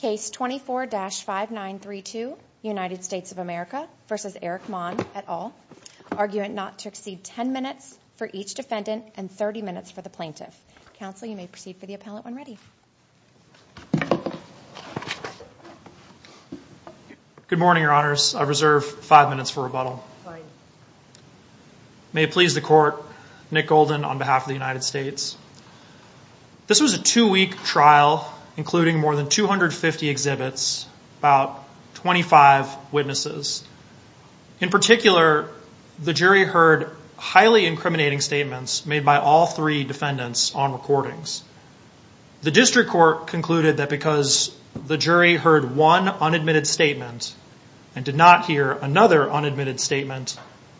Case 24-5932 United States of America v. Erik Maund, et al. Argument not to exceed 10 minutes for each defendant and 30 minutes for the plaintiff. Counsel, you may proceed for the appellant when ready. Good morning, Your Honors. I reserve five minutes for rebuttal. May it please the court, Nick Golden on behalf of the United States. This was a two-week trial, including more than 250 exhibits, about 25 witnesses. In particular, the jury heard highly incriminating statements made by all three defendants on recordings. The district court concluded that because the jury heard one unadmitted statement and did not hear another unadmitted statement,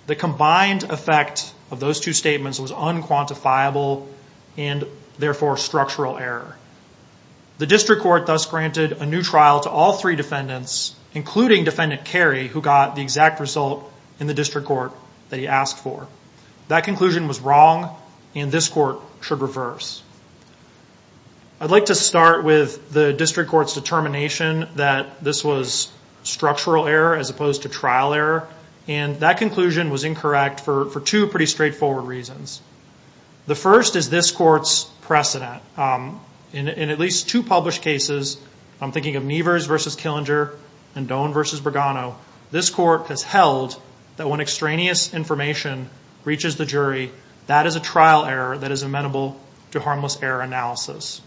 the combined effect of those two statements was unquantifiable and therefore structural error. The district court thus granted a new trial to all three defendants, including Defendant Carey, who got the exact result in the district court that he asked for. That conclusion was wrong and this court should reverse. I'd like to start with the district court's determination that this was structural error as opposed to trial error, and that conclusion was incorrect for two pretty straightforward reasons. The first is this court's precedent. In at least two published cases, I'm thinking of Nevers versus Killinger and Doan versus Bergano, this court has held that when extraneous information reaches the jury, that is a trial error that is amenable to harmless error analysis.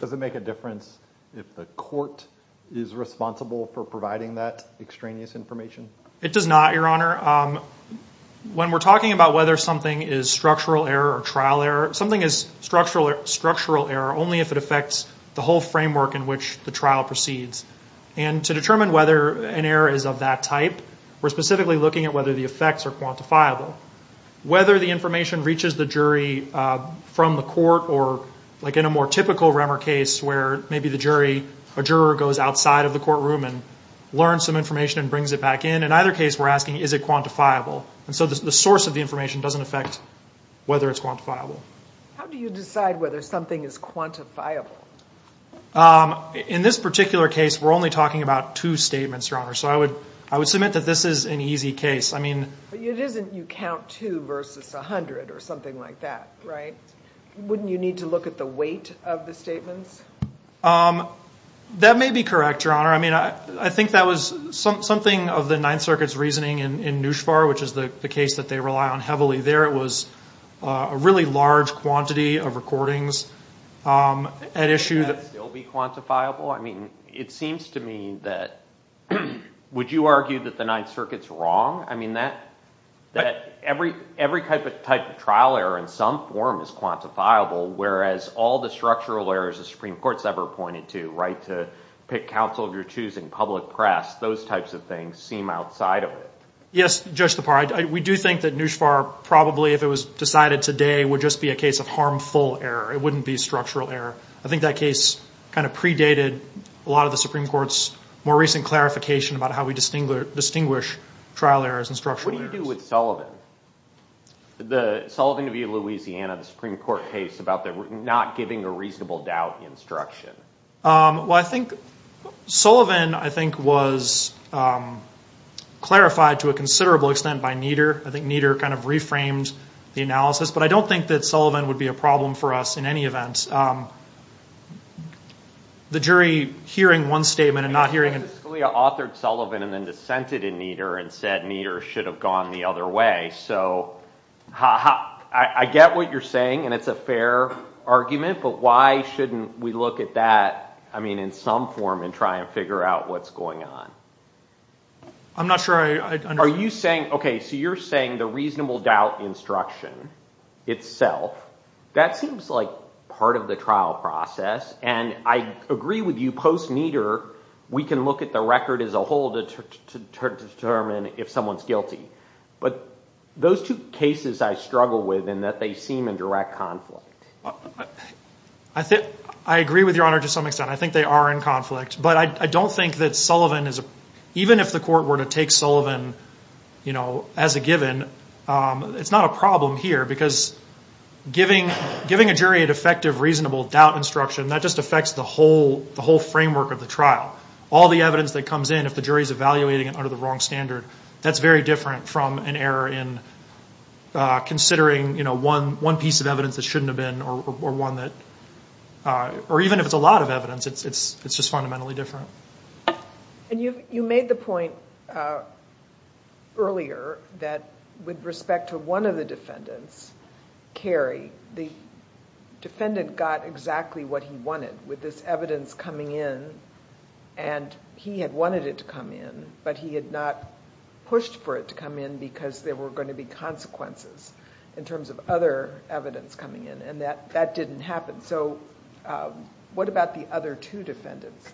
Does it make a difference if the court is responsible for providing that extraneous information? It does not, Your Honor. When we're talking about whether something is structural error or trial error, something is structural structural error only if it affects the whole framework in which the trial proceeds. And to determine whether an error is of that type, we're specifically looking at whether the effects are quantifiable. Whether the information reaches the jury from the court or like in a more typical Remmer case where maybe the jury, a juror goes outside of the courtroom and learns some information and brings it back in. In either case, we're asking, is it quantifiable? And so the source of the information doesn't affect whether it's quantifiable. How do you decide whether something is quantifiable? In this particular case, we're only talking about two statements, Your Honor, so I would I would submit that this is an easy case. I mean, it isn't you count two versus a hundred or something like that, right? Wouldn't you need to look at the weight of the statements? That may be correct, Your Honor. I mean, I think that was something of the Ninth Circuit's reasoning in NUSHVAR, which is the case that they rely on heavily there. It was a really large quantity of recordings. At issue that will be quantifiable. I mean, it seems to me that would you argue that the Ninth Circuit's wrong? I mean, that every type of trial error in some form is quantifiable, whereas all the structural errors the Supreme Court's ever pointed to, right, to pick counsel if you're choosing public press, those types of things seem outside of it. Yes, Judge Tapar, we do think that NUSHVAR, probably if it was decided today, would just be a case of harmful error. It wouldn't be a structural error. I think that case kind of predated a lot of the Supreme Court's more recent clarification about how we distinguish trial errors and structural errors. What do you do with Sullivan? The Sullivan interview in Louisiana, the Supreme Court case about not giving a reasonable doubt instruction. Well, I think Sullivan, I think, was clarified to a considerable extent by Nieder. I think Nieder kind of reframed the analysis. But I don't think that Sullivan would be a problem for us in any event. The jury hearing one statement and not hearing another. Nieder authored Sullivan and then dissented in Nieder and said Nieder should have gone the other way, so I get what you're saying, and it's a fair argument, but why shouldn't we look at that, I mean, in some form and try and figure out what's going on? I'm not sure. Are you saying, okay, so you're saying the reasonable doubt instruction itself, that seems like part of the trial process, and I agree with you post-Nieder, we can look at the record as a whole to determine if someone's guilty. But those two cases I struggle with in that they seem in direct conflict. I agree with your honor to some extent. I think they are in conflict. But I don't think that Sullivan is a, even if the court were to take Sullivan, you know, as a given, it's not a problem here because giving a jury a defective reasonable doubt instruction, that just affects the whole framework of the trial. All the evidence that comes in, if the jury is evaluating it under the wrong standard, that's very different from an error in considering, you know, one piece of evidence that shouldn't have been or one that, or even if it's a lot of evidence, it's just fundamentally different. And you made the point earlier that with respect to one of the defendants, Kerry, the defendant got exactly what he wanted with this evidence coming in, and he had wanted it to come in, but he had not pushed for it to come in because there were going to be consequences in terms of other evidence coming in, and that that didn't happen. So what about the other two defendants,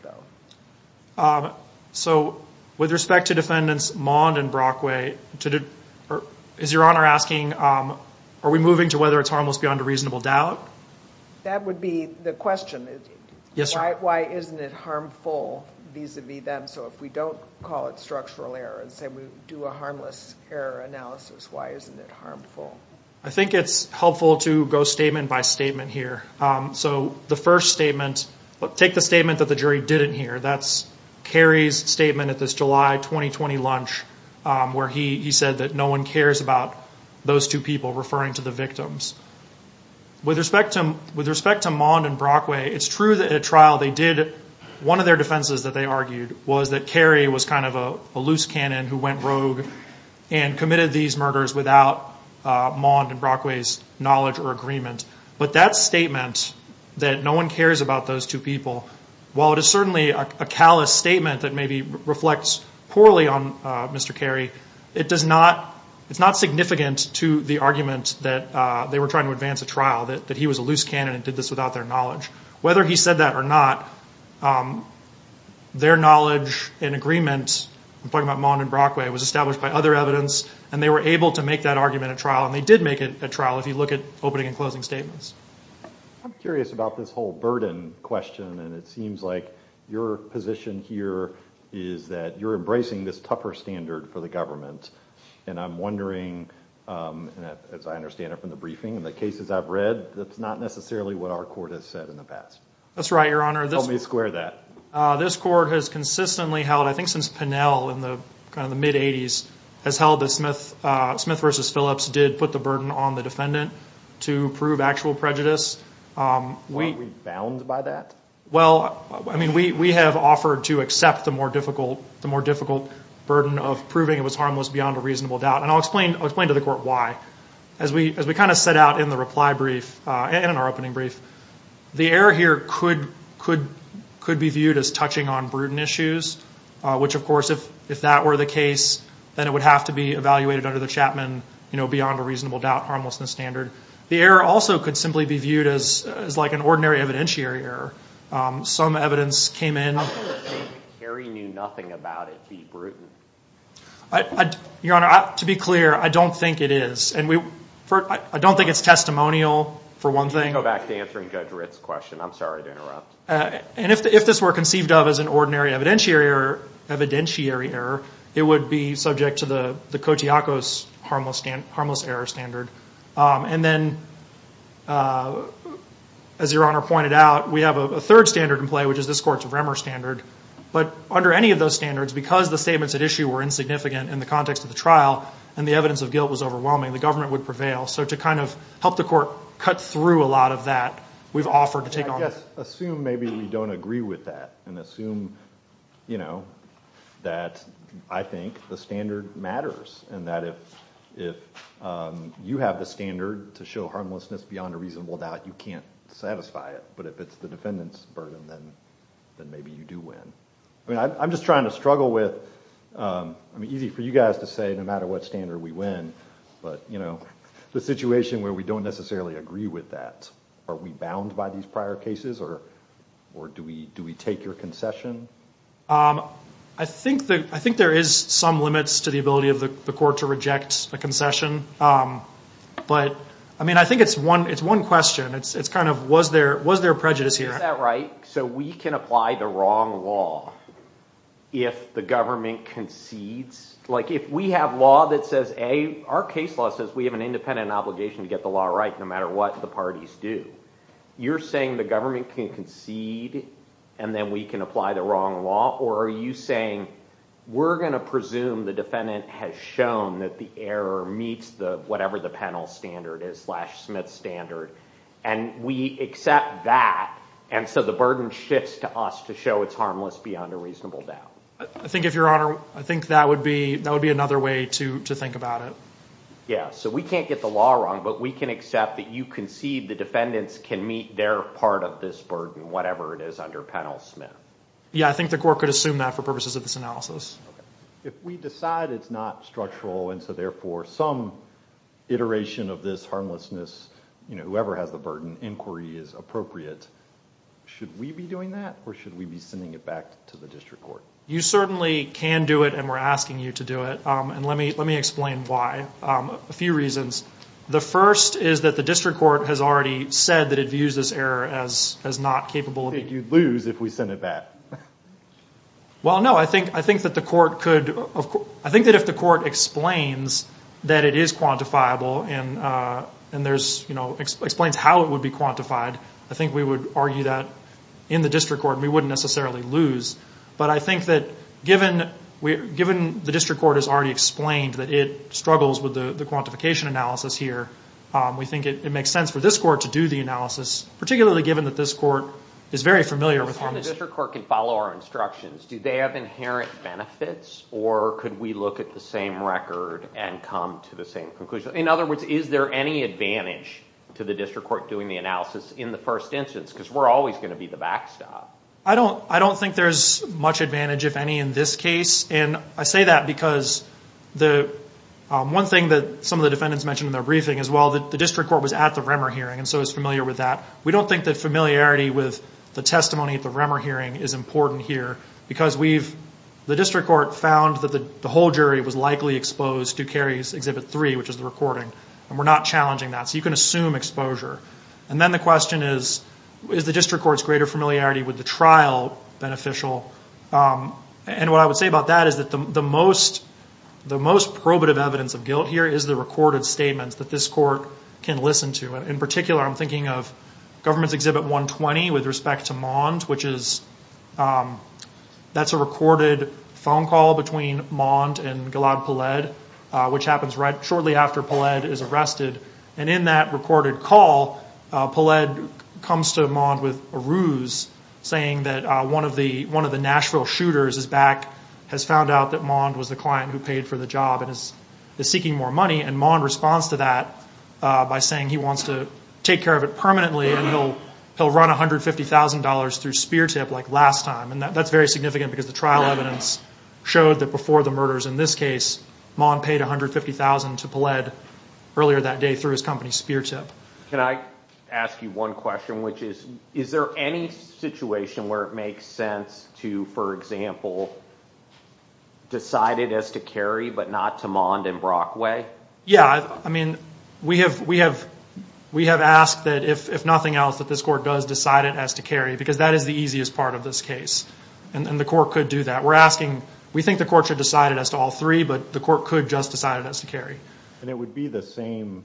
though? So with respect to defendants Mond and Brockway, is Your Honor asking, are we moving to whether it's harmless beyond a reasonable doubt? That would be the question. Yes. Why isn't it harmful vis-a-vis them? So if we don't call it structural error and say we do a harmless error analysis, why isn't it harmful? I think it's helpful to go statement by statement here. So the first statement, take the statement that the jury didn't hear, that's Kerry's statement at this July 2020 lunch where he said that no one cares about those two people referring to the victims. With respect to Mond and Brockway, it's true that at trial they did, one of their defenses that they argued was that Kerry was kind of a loose cannon who went rogue and committed these murders without Mond and Brockway's knowledge or agreement, but that statement that no one cares about those two people, while it is certainly a callous statement that maybe reflects poorly on Mr. Kerry, it does not, it's not significant to the argument that they were trying to advance a trial, that he was a loose cannon and did this without their knowledge. Whether he said that or not, their knowledge and agreement, I'm talking about Mond and Brockway, was established by other evidence and they were able to make that argument at trial and they did make it at trial if you look at opening and closing statements. I'm curious about this whole burden question, and it seems like your position here is that you're embracing this tougher standard for the government, and I'm wondering, as I understand it from the briefing and the cases I've read, that's not necessarily what our court has said in the past. That's right, Your Honor. Help me square that. This court has consistently held, I think since Pinnell in the kind of the mid-80s, has held that Smith v. Phillips did put the burden on the defendant to prove actual prejudice. Were we bound by that? Well, I mean, we have offered to accept the more difficult burden of proving it was harmless beyond a reasonable doubt, and I'll explain to the court why. As we kind of set out in the reply brief and in our opening brief, the error here could be viewed as touching on prudent issues, which, of course, if that were the case, then it would have to be evaluated under the Chapman, you know, beyond a reasonable doubt, harmlessness standard. The error also could simply be viewed as like an ordinary evidentiary error. Some evidence came in... I don't think Kerry knew nothing about it being prudent. Your Honor, to be clear, I don't think it is, and I don't think it's testimonial for one thing. You can go back to answering Judge Ritt's question. I'm sorry to interrupt. And if this were conceived of as an ordinary evidentiary error, it would be subject to the Kotiakos harmless error standard. And then, as Your Honor pointed out, we have a third standard in play, which is this Court's Vremer standard. But under any of those standards, because the statements at issue were insignificant in the context of the trial, and the evidence of guilt was overwhelming, the government would prevail. So to kind of help the court cut through a lot of that, we've offered to take on... I guess, assume maybe we don't agree with that, and assume, you know, that I think the standard matters, and that if you have the standard to show harmlessness beyond a reasonable doubt, you can't satisfy it. But if it's the defendant's burden, then maybe you do win. I mean, I'm just trying to struggle with... I mean, easy for you guys to say no matter what standard we win, but, you know, the situation where we don't necessarily agree with that, are we bound by these prior cases, or do we take your concession? I think there is some limits to the ability of the court to reject a concession. But, I mean, I think it's one question. It's kind of, was there prejudice here? Is that right? So we can apply the wrong law if the government concedes? Like, if we have law that says, A, our case law says we have an independent obligation to get the law right no matter what the parties do. You're saying the government can concede, and then we can apply the wrong law? Or are you saying we're gonna presume the defendant has shown that the error meets the, whatever the penal standard is, slash Smith standard, and we accept that, and so the burden shifts to us to show it's harmless beyond a reasonable doubt. I think, if your honor, I think that would be another way to think about it. Yeah, so we can't get the law wrong, but we can accept that you concede the defendants can meet their part of this burden, whatever it is under Penal Smith. Yeah, I think the court could assume that for purposes of this analysis. If we decide it's not structural, and so therefore some iteration of this harmlessness, you know, whoever has the burden, inquiry is appropriate, should we be doing that, or should we be sending it back to the district court? You certainly can do it, and we're asking you to do it, and let me explain why. A few reasons. The first is that the district court has already said that it views this error as not capable. You'd lose if we send it back. Well, no, I think that the court could, I think that if the court explains that it is quantifiable, and and there's, you know, explains how it would be quantified, I think we would argue that in the district court, we wouldn't necessarily lose. But I think that given the district court has already explained that it struggles with the quantification analysis here, we think it makes sense for this court to do the analysis, particularly given that this court is very familiar with harmlessness. And the district court can follow our instructions. Do they have inherent benefits, or could we look at the same record and come to the same conclusion? In other words, is there any advantage to the district court doing the analysis in the first instance, because we're always going to be the backstop. I don't, I don't think there's much advantage, if any, in this case. And I say that because the one thing that some of the defendants mentioned in their briefing as well, that the district court was at the Remmer hearing, and so is familiar with that. We don't think that familiarity with the testimony at the Remmer hearing is important here, because we've, the district court found that the whole jury was likely exposed to Carey's Exhibit 3, which is the recording, and we're not challenging that. So you can assume exposure. And then the question is, is the district court's greater familiarity with the trial beneficial? And what I would say about that is that the most, the most probative evidence of guilt here is the recorded statements that this court can listen to. And in particular, I'm thinking of Government's Exhibit 120 with respect to Mond, which is, that's a recorded phone call between Mond and Gilad Peled, which happens right, shortly after Peled is arrested. And in that recorded call, Peled comes to Mond with a ruse, saying that one of the, one of the Nashville shooters is back, has found out that Mond was the client who paid for the job, and is seeking more money. And Mond responds to that by saying he wants to take care of it permanently, and he'll, he'll run $150,000 through Speartip like last time. And that's very significant, because the trial evidence showed that before the murders in this case, Mond paid $150,000 to Peled earlier that day through his company Speartip. Can I ask you one question, which is, is there any situation where it makes sense to, for example, decide it as to carry, but not to Mond and Brockway? Yeah, I mean, we have, we have, we have asked that if nothing else, that this court does decide it as to carry, because that is the easiest part of this case, and the court could do that. We're asking, we think the court should decide it as to all three, but the court could just decide it as to carry. And it would be the same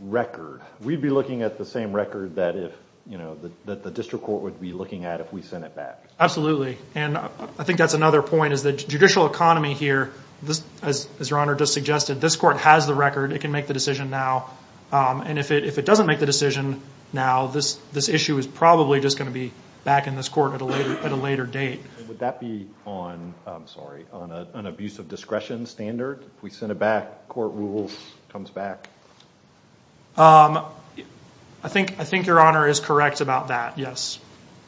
record. We'd be looking at the same record that if, you know, that the district court would be looking at if we sent it back. Absolutely, and I think that's another point, is the judicial economy here, this, as your Honor just suggested, this court has the record, it can make the decision now, and if it, if it doesn't make the decision now, this, this issue is probably just going to be back in this court at a later date. Would that be on, I'm sorry, on an abuse of discretion standard? If we sent it back, court rules comes back? I think, I think your Honor is correct about that, yes.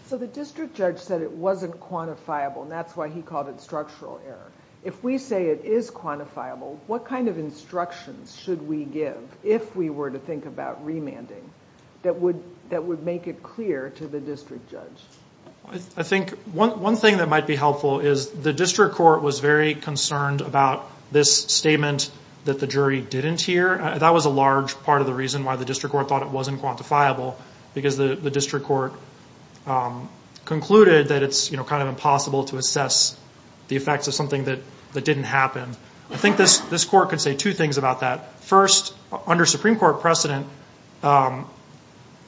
So the district judge said it wasn't quantifiable, and that's why he called it structural error. If we say it is quantifiable, what kind of instructions should we give, if we were to think about remanding, that would, that would make it clear to the district judge? I think one, one thing that might be helpful is the district court was very concerned about this statement that the jury didn't hear. That was a large part of the reason why the district court thought it wasn't quantifiable, because the district court concluded that it's, you know, kind of impossible to assess the effects of something that, that didn't happen. I think this, this court could say two things about that. First, under Supreme Court precedent,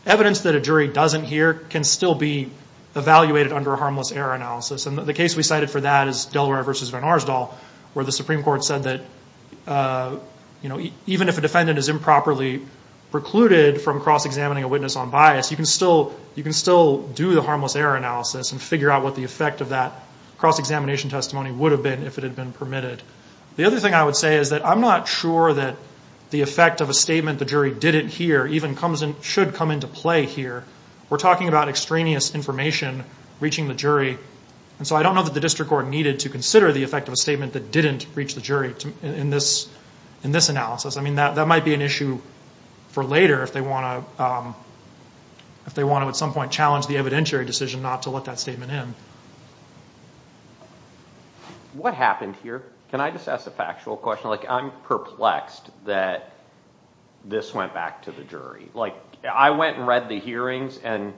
evidence that a jury doesn't hear can still be evaluated under a harmless error analysis. And the case we cited for that is Delaware versus Van Arsdale, where the Supreme Court said that, you know, even if a defendant is improperly precluded from cross-examining a witness on bias, you can still, you can still do the harmless error analysis and figure out what the effect of that cross-examination testimony would have been, if it had been permitted. The other thing I would say is that I'm not sure that the effect of a statement the jury didn't hear even comes in, should come into play here. We're talking about extraneous information reaching the jury, and so I don't know that the district court needed to consider the effect of a statement that didn't reach the jury in this, in this analysis. I mean that, that might be an issue for later if they want to, if they want to at some point challenge the evidentiary decision not to let that statement in. What happened here? Can I just ask a factual question? Like, I'm perplexed that this went back to the jury. Like, I went and read the hearings and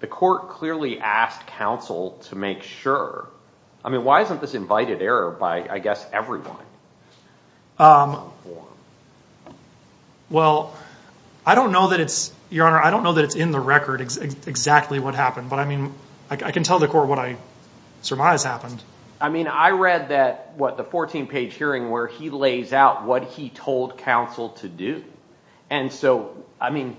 the court clearly asked counsel to make sure. I mean, why isn't this invited error by, I guess, everyone? Well, I don't know that it's, Your Honor, I don't know that it's in the record exactly what happened, but I mean, I can tell the court what I surmise happened. I mean, I read that, what, the 14-page hearing where he lays out what he told counsel to do. And so, I mean,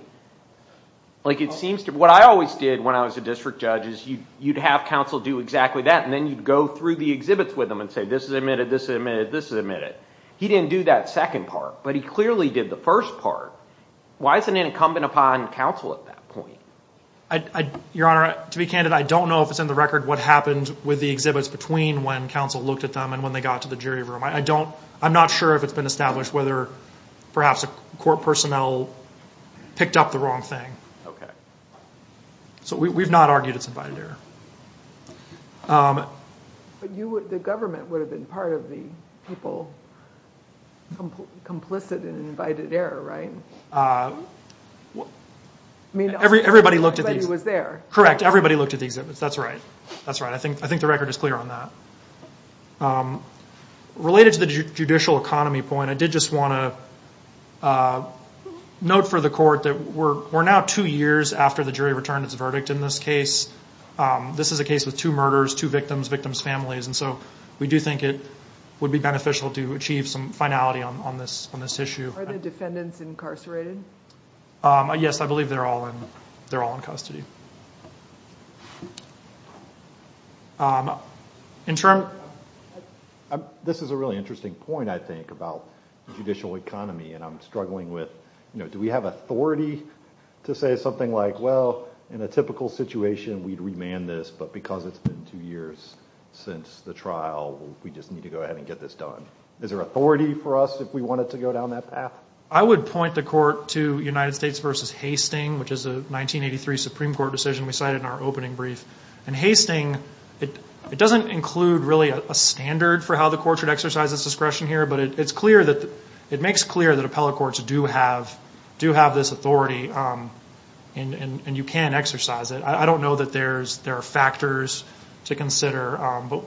like, it seems to, what I always did when I was a district judge is you'd have counsel do exactly that, and then you'd go through the exhibits with them and say this is admitted, this is admitted, this is admitted. He didn't do that second part, but he clearly did the first part. Why is it an incumbent upon counsel at that point? Your Honor, to be candid, I don't know if it's in the record what happened with the exhibits between when counsel looked at them and when they got to the jury room. I don't, I'm not sure if it's been established whether perhaps a court personnel picked up the wrong thing. Okay. So we've not argued it's invited error. But you would, the government would have been part of the people complicit in an invited error, right? I mean, everybody looked at these. Everybody was there. Correct. Everybody looked at the exhibits. That's right. That's right. I think, I think the record is clear on that. Related to the judicial economy point, I did just want to note for the court that we're now two years after the jury returned its verdict in this case. This is a case with two murders, two victims, victims' families, and so we do think it would be beneficial to achieve some finality on this issue. Are the defendants incarcerated? Yes, I believe they're all in, they're all in custody. Interim? This is a really interesting point, I think, about the judicial economy, and I'm struggling with, you know, do we have authority to say something like, well, in a typical situation, we'd remand this, but because it's been two years since the trial, we just need to go ahead and get this done. Is there authority for us if we wanted to go down that path? I would point the court to United States v. Hastings, which is a 1983 Supreme Court decision we cited in our opening brief, and Hastings, it doesn't include really a standard for how the court should exercise its discretion here, but it's clear that, it makes clear that appellate courts do have, do have this authority, and you can exercise it. I don't know that there's, there are factors to consider, but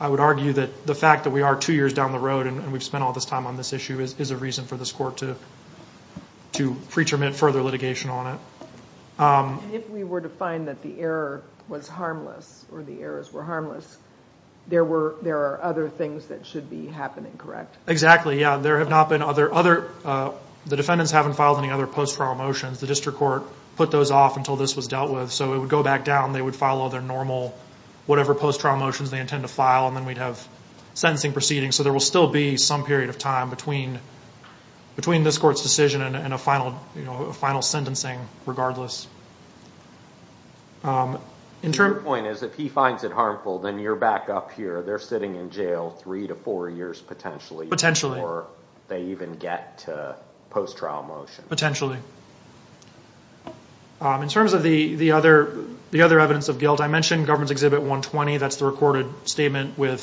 I would argue that the fact that we are two years down the road, and we've spent all this time on this issue, is a reason for this court to to pretermine further litigation on it. If we were to find that the error was harmless, or the errors were harmless, there were, there are other things that should be happening, correct? Exactly, yeah, there have not been other, other, the defendants haven't filed any other post-trial motions. The district court put those off until this was dealt with, so it would go back down, they would follow their normal, whatever post-trial motions they intend to file, and then we'd have sentencing proceedings, so there will still be some period of time between, between this court's decision and a final, you know, a final sentencing, regardless. In terms... Your point is, if he finds it harmful, then you're back up here. They're sitting in jail three to four years, potentially. Potentially. Before they even get to post-trial motions. Potentially. In terms of the, the other, the other evidence of guilt, I mentioned Government's Exhibit 120, that's the recorded statement with,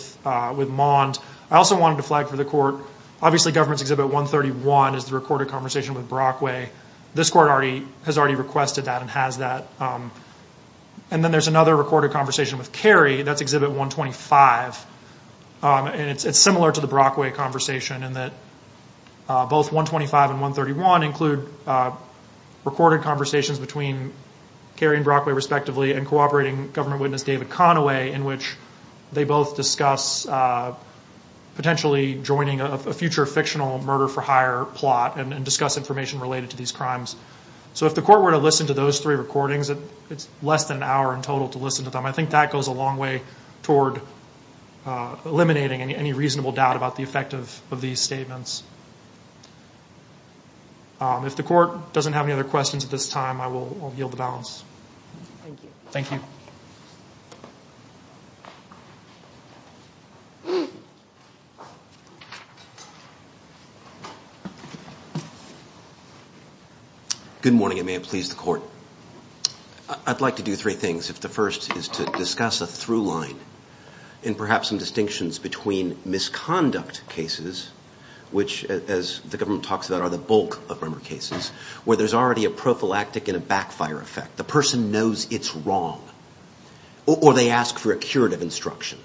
with Mond. I also wanted to flag for the court, obviously, Government's Exhibit 131 is the recorded conversation with Brockway. This court already, has already requested that, and has that. And then there's another recorded conversation with Carey, that's Exhibit 125. And it's, it's similar to the Brockway conversation, in that both 125 and 131 include recorded conversations between Carey and Brockway, respectively, and cooperating government witness David Conaway, in which they both discuss potentially joining a future fictional murder-for-hire plot, and discuss information related to these crimes. So if the court were to listen to those three recordings, it's less than an hour in total to listen to them. I think that goes a long way toward eliminating any, any reasonable doubt about the effect of, of these statements. If the court doesn't have any other questions at this time, I will, I'll yield the balance. Thank you. Thank you. Good morning, and may it please the court. I'd like to do three things. If the first is to discuss a through line, and perhaps some distinctions between misconduct cases, which, as the government talks about, are the bulk of rumor cases, where there's already a prophylactic and a backfire effect. The person knows it's wrong. Or they ask for a curative instruction.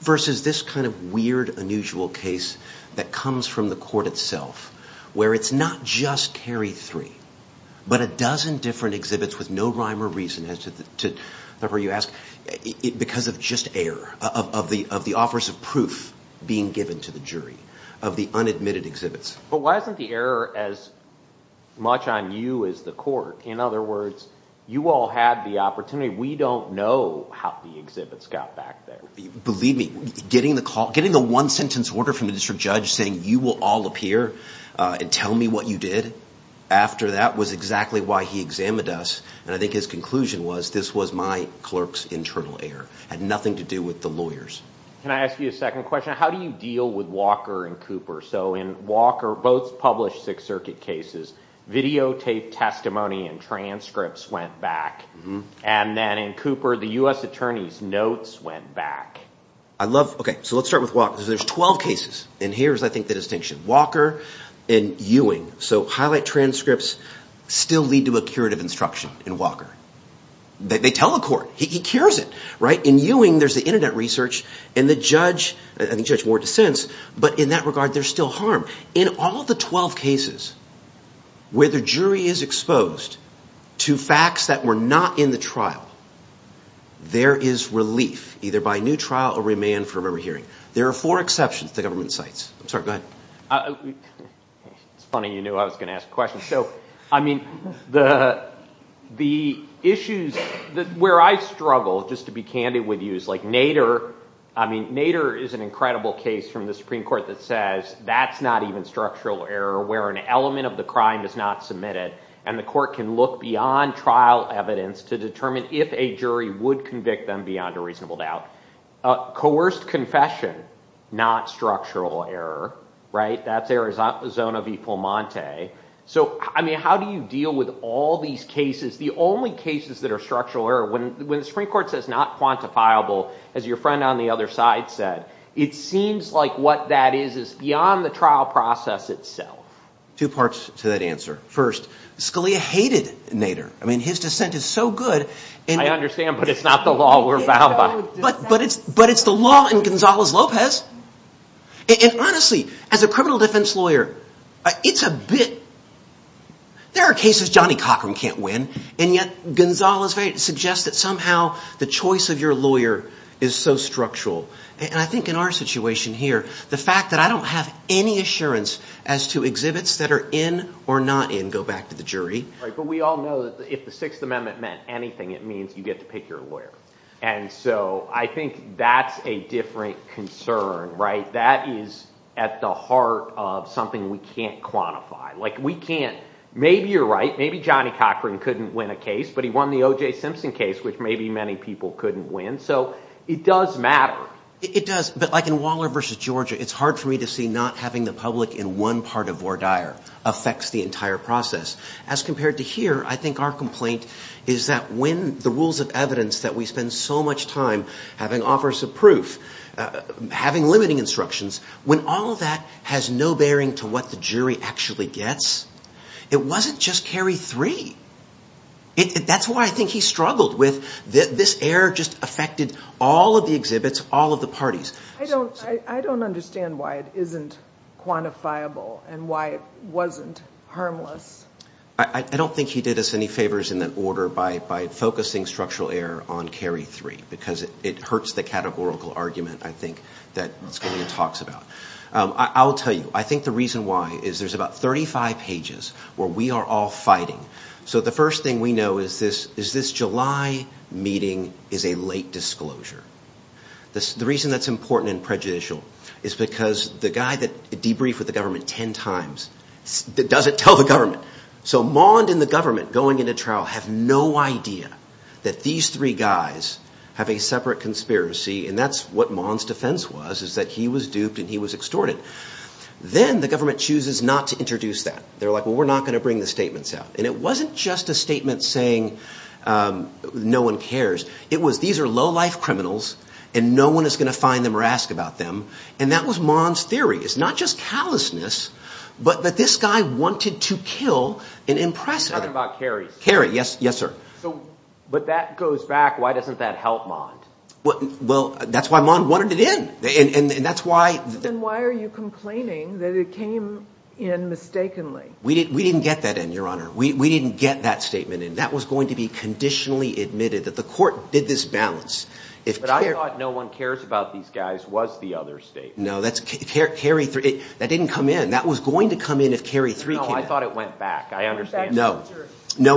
Versus this kind of weird, unusual case that comes from the court itself, where it's not just Carey three, but a dozen different exhibits with no rhyme or reason as to, to, because of just error of the, of the offers of proof being given to the jury of the unadmitted exhibits. But why isn't the error as much on you as the court? In other words, you all had the opportunity. We don't know how the exhibits got back there. Believe me, getting the call, getting the one sentence order from the district judge saying you will all appear and tell me what you did after that was exactly why he examined us. And I think his conclusion was, this was my clerk's internal error. Had nothing to do with the lawyers. Can I ask you a second question? How do you deal with Walker and Cooper? So in Walker, both published Sixth Circuit cases, videotaped testimony and transcripts went back. And then in Cooper, the U.S. attorney's notes went back. I love, okay, so let's start with Walker. There's 12 cases, and here's, I think, the distinction. Walker and Ewing, so highlight transcripts still lead to a curative instruction in Walker. They tell the court. He cures it, right? In Ewing, there's the internet research, and the judge, I think Judge Ward dissents, but in that regard, there's still harm. In all the 12 cases where the jury is exposed to facts that were not in the trial, there is relief, either by new trial or remand for a memory hearing. There are four exceptions the government cites. I'm sorry, go ahead. It's funny you knew I was going to ask a question. So, I mean, the issues where I struggle, just to be candid with you, is like Nader. I mean, Nader is an incredible case from the Supreme Court that says that's not even structural error, where an element of the crime is not submitted, and the court can look beyond trial evidence to determine if a jury would convict them beyond a reasonable doubt. Coerced confession, not structural error, right? That's Arizona v. Fulmonte. So, I mean, how do you deal with all these cases? The only cases that are structural error, when the Supreme Court says not quantifiable, as your friend on the other side said, it seems like what that is is beyond the trial process itself. Two parts to that answer. First, Scalia hated Nader. I mean, his dissent is so good. I understand, but it's not the law we're bound by. But it's the law in Gonzales-Lopez. And honestly, as a criminal defense lawyer, it's a bit... There are cases Johnny Cochran can't win, and yet Gonzales-Lopez suggests that somehow the choice of your lawyer is so structural. And I think in our situation here, the fact that I don't have any assurance as to exhibits that are in or not in go back to the jury. But we all know that if the Sixth Amendment meant anything, it means you get to pick your lawyer. And so I think that's a different concern, right? That is at the heart of something we can't quantify. Like, we can't... Maybe you're right. Maybe Johnny Cochran couldn't win a case, but he won the O.J. Simpson case, which maybe many people couldn't win. So it does matter. It does. But like in Waller v. Georgia, it's hard for me to see not having the public in one part of Vordaer affects the entire process. As compared to here, I think our complaint is that when the rules of evidence that we spend so much time having offers of proof, having limiting instructions, when all of that has no bearing to what the jury actually gets, it wasn't just carry three. That's what I think he struggled with. This error just affected all of the exhibits, all of the parties. I don't understand why it isn't quantifiable and why it wasn't harmless. I don't think he did us any favors in that order by focusing structural error on carry three, because it hurts the categorical argument, I think, that Scalia talks about. I will tell you, I think the reason why is there's about 35 pages where we are all fighting. So the first thing we know is this July meeting is a late disclosure. The reason that's important and prejudicial is because the guy that debriefed with the government ten times doesn't tell the government. So Mond and the government going into trial have no idea that these three guys have a separate conspiracy, and that's what Mond's defense was, is that he was duped and he was extorted. Then the government chooses not to introduce that. They're like, well, we're not going to bring the statements out. And it wasn't just a statement saying no one cares. It was these are low-life criminals, and no one is going to find them or ask about them. And that was Mond's theory. It's not just callousness, but that this guy wanted to kill and impress others. You're talking about carry. Carry, yes, sir. But that goes back. Why doesn't that help Mond? Well, that's why Mond wanted it in, and that's why. Then why are you complaining that it came in mistakenly? We didn't get that in, Your Honor. We didn't get that statement in. That was going to be conditionally admitted that the court did this balance. But I thought no one cares about these guys was the other statement. No, that didn't come in. That was going to come in if carry three came in. No, I thought it went back. I understand. No,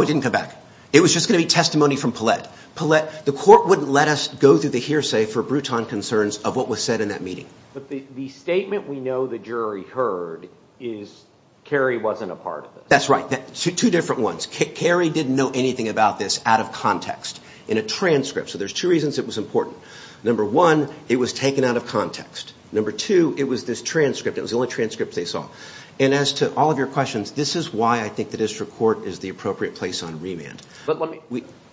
it didn't come back. It was just going to be testimony from Paulette. Paulette, the court wouldn't let us go through the hearsay for Bruton concerns of what was said in that meeting. But the statement we know the jury heard is carry wasn't a part of this. That's right. Two different ones. Carry didn't know anything about this out of context in a transcript. So there's two reasons it was important. Number one, it was taken out of context. Number two, it was this transcript. It was the only transcript they saw. And as to all of your questions, this is why I think the district court is the appropriate place on remand.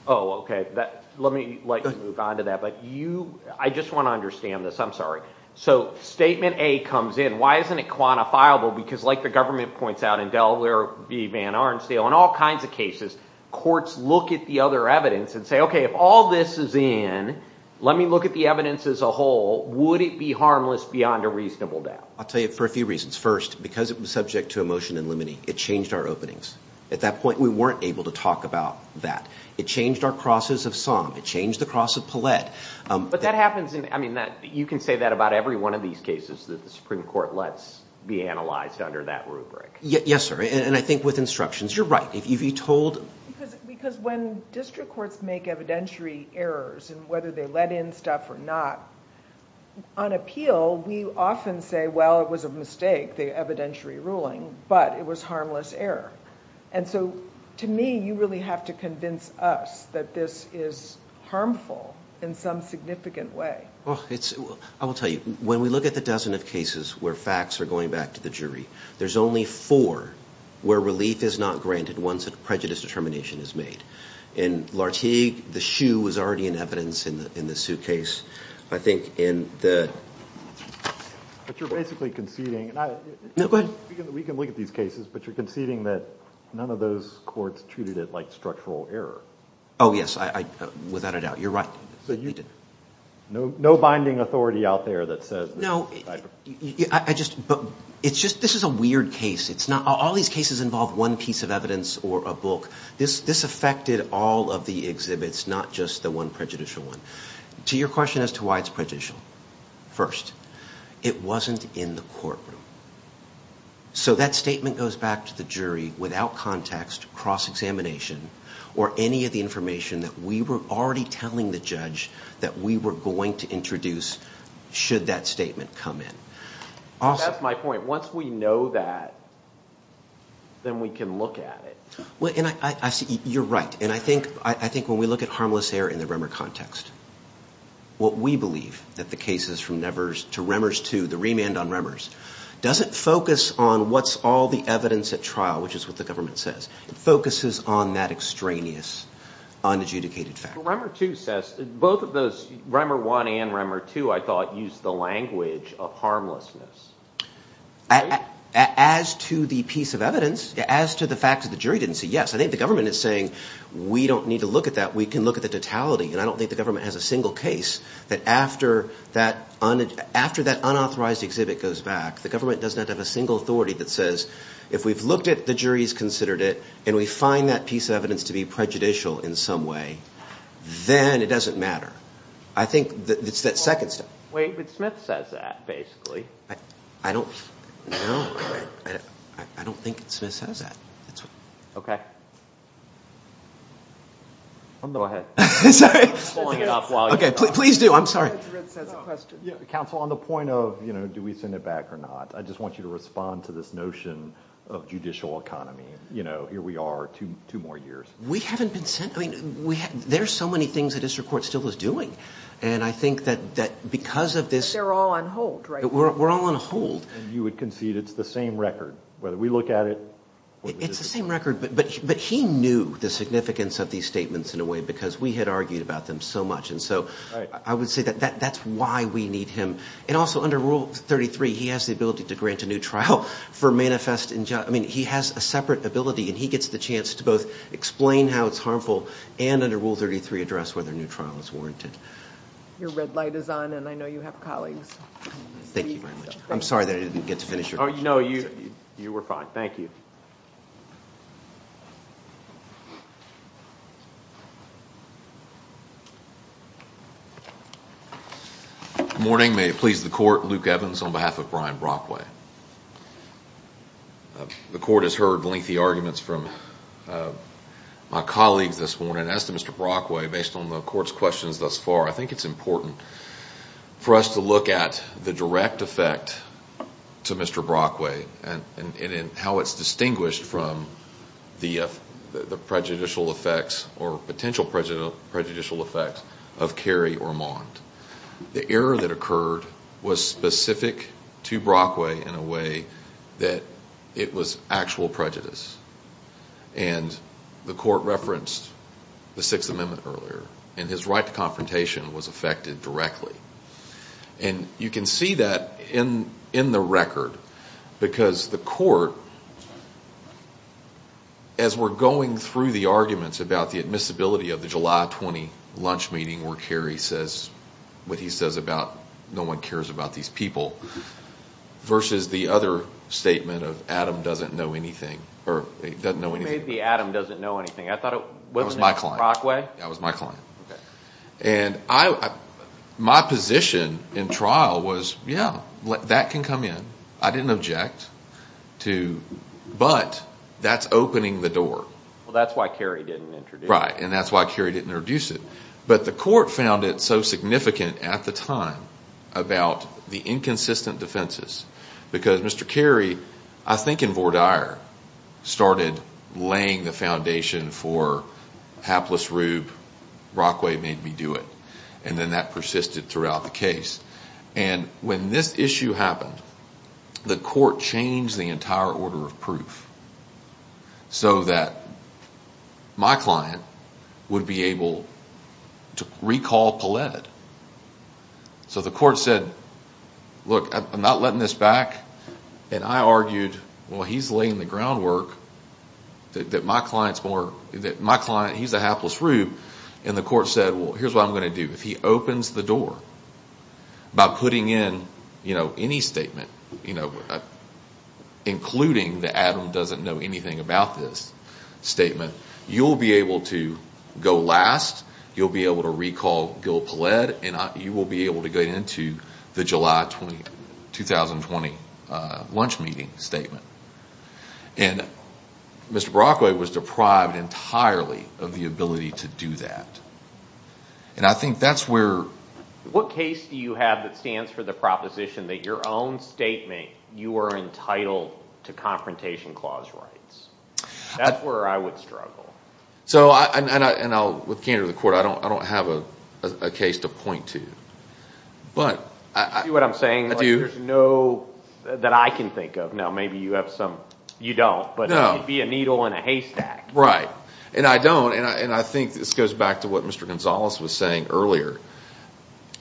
Oh, okay. Let me like move on to that. But I just want to understand this. I'm sorry. So statement A comes in. Why isn't it quantifiable? Because like the government points out in Delaware v. Van Arnstiel, in all kinds of cases, courts look at the other evidence and say, okay, if all this is in, let me look at the evidence as a whole. Would it be harmless beyond a reasonable doubt? I'll tell you for a few reasons. First, because it was subject to a motion in limine. It changed our openings. At that point, we weren't able to talk about that. It changed our crosses of Somme. It changed the cross of Paulette. You can say that about every one of these cases that the Supreme Court lets be analyzed under that rubric. Yes, sir. And I think with instructions. You're right. Because when district courts make evidentiary errors in whether they let in stuff or not, on appeal, we often say, well, it was a mistake, the evidentiary ruling, but it was harmless error. And so to me, you really have to convince us that this is harmful in some significant way. Well, I will tell you, when we look at the dozen of cases where facts are going back to the jury, there's only four where relief is not granted once a prejudice determination is made. In Lartigue, the shoe was already in evidence in the suitcase. I think in the – But you're basically conceding – No, go ahead. We can look at these cases, but you're conceding that none of those courts treated it like structural error. Oh, yes, without a doubt. You're right. No binding authority out there that says – No, I just – but it's just – this is a weird case. It's not – all these cases involve one piece of evidence or a book. This affected all of the exhibits, not just the one prejudicial one. To your question as to why it's prejudicial, first, it wasn't in the courtroom. So that statement goes back to the jury without context, cross-examination, or any of the information that we were already telling the judge that we were going to introduce should that statement come in. That's my point. Once we know that, then we can look at it. You're right, and I think when we look at harmless error in the Remmer context, what we believe, that the cases from Nevers to Remmers II, the remand on Remmers, doesn't focus on what's all the evidence at trial, which is what the government says. It focuses on that extraneous, unadjudicated fact. Remmer II says – both of those, Remmer I and Remmer II, I thought, used the language of harmlessness. As to the piece of evidence, as to the fact that the jury didn't say yes, I think the government is saying we don't need to look at that. We can look at the totality, and I don't think the government has a single case that after that unauthorized exhibit goes back, the government doesn't have a single authority that says if we've looked at it, the jury's considered it, and we find that piece of evidence to be prejudicial in some way, then it doesn't matter. I think it's that second step. Wait, but Smith says that, basically. I don't – no, I don't think Smith says that. Okay. Go ahead. Sorry. I'm just blowing it up while you talk. Okay, please do. I'm sorry. I'm sorry, Gerard says a question. Counsel, on the point of, you know, do we send it back or not, I just want you to respond to this notion of judicial economy. You know, here we are two more years. We haven't been sent – I mean, there are so many things the district court still is doing, and I think that because of this – But they're all on hold, right? We're all on hold. And you would concede it's the same record, whether we look at it – It's the same record, but he knew the significance of these statements in a way, because we had argued about them so much. And so I would say that that's why we need him. And also, under Rule 33, he has the ability to grant a new trial for manifest – I mean, he has a separate ability, and he gets the chance to both explain how it's harmful and, under Rule 33, address whether a new trial is warranted. Your red light is on, and I know you have colleagues. Thank you very much. I'm sorry that I didn't get to finish your question. No, you were fine. Thank you. Good morning. May it please the Court. Luke Evans on behalf of Brian Brockway. The Court has heard lengthy arguments from my colleagues this morning. As to Mr. Brockway, based on the Court's questions thus far, I think it's important for us to look at the direct effect to Mr. Brockway and how it's distinguished from the prejudicial effects or potential prejudicial effects of Kerry or Mond. The error that occurred was specific to Brockway in a way that it was actual prejudice. And the Court referenced the Sixth Amendment earlier, and his right to confrontation was affected directly. And you can see that in the record because the Court, as we're going through the arguments about the admissibility of the July 20 lunch meeting where Kerry says what he says about no one cares about these people, versus the other statement of Adam doesn't know anything. Who made the Adam doesn't know anything? I thought it was Mr. Brockway. That was my client. And my position in trial was, yeah, that can come in. I didn't object, but that's opening the door. Well, that's why Kerry didn't introduce it. Right, and that's why Kerry didn't introduce it. But the Court found it so significant at the time about the inconsistent defenses because Mr. Kerry, I think in Vordaer, started laying the foundation for hapless Rube, Brockway made me do it, and then that persisted throughout the case. And when this issue happened, the Court changed the entire order of proof so that my client would be able to recall Pallette. So the Court said, look, I'm not letting this back. And I argued, well, he's laying the groundwork that my client's more, that my client, he's a hapless Rube. And the Court said, well, here's what I'm going to do. If he opens the door by putting in any statement, including that Adam doesn't know anything about this statement, you'll be able to go last, you'll be able to recall Gil Pallette, and you will be able to get into the July 2020 lunch meeting statement. And Mr. Brockway was deprived entirely of the ability to do that. And I think that's where… What case do you have that stands for the proposition that your own statement, you are entitled to confrontation clause rights? That's where I would struggle. And with candor to the Court, I don't have a case to point to. You see what I'm saying? I do. There's no that I can think of. Now, maybe you have some. You don't, but it could be a needle in a haystack. Right. And I don't. And I think this goes back to what Mr. Gonzalez was saying earlier.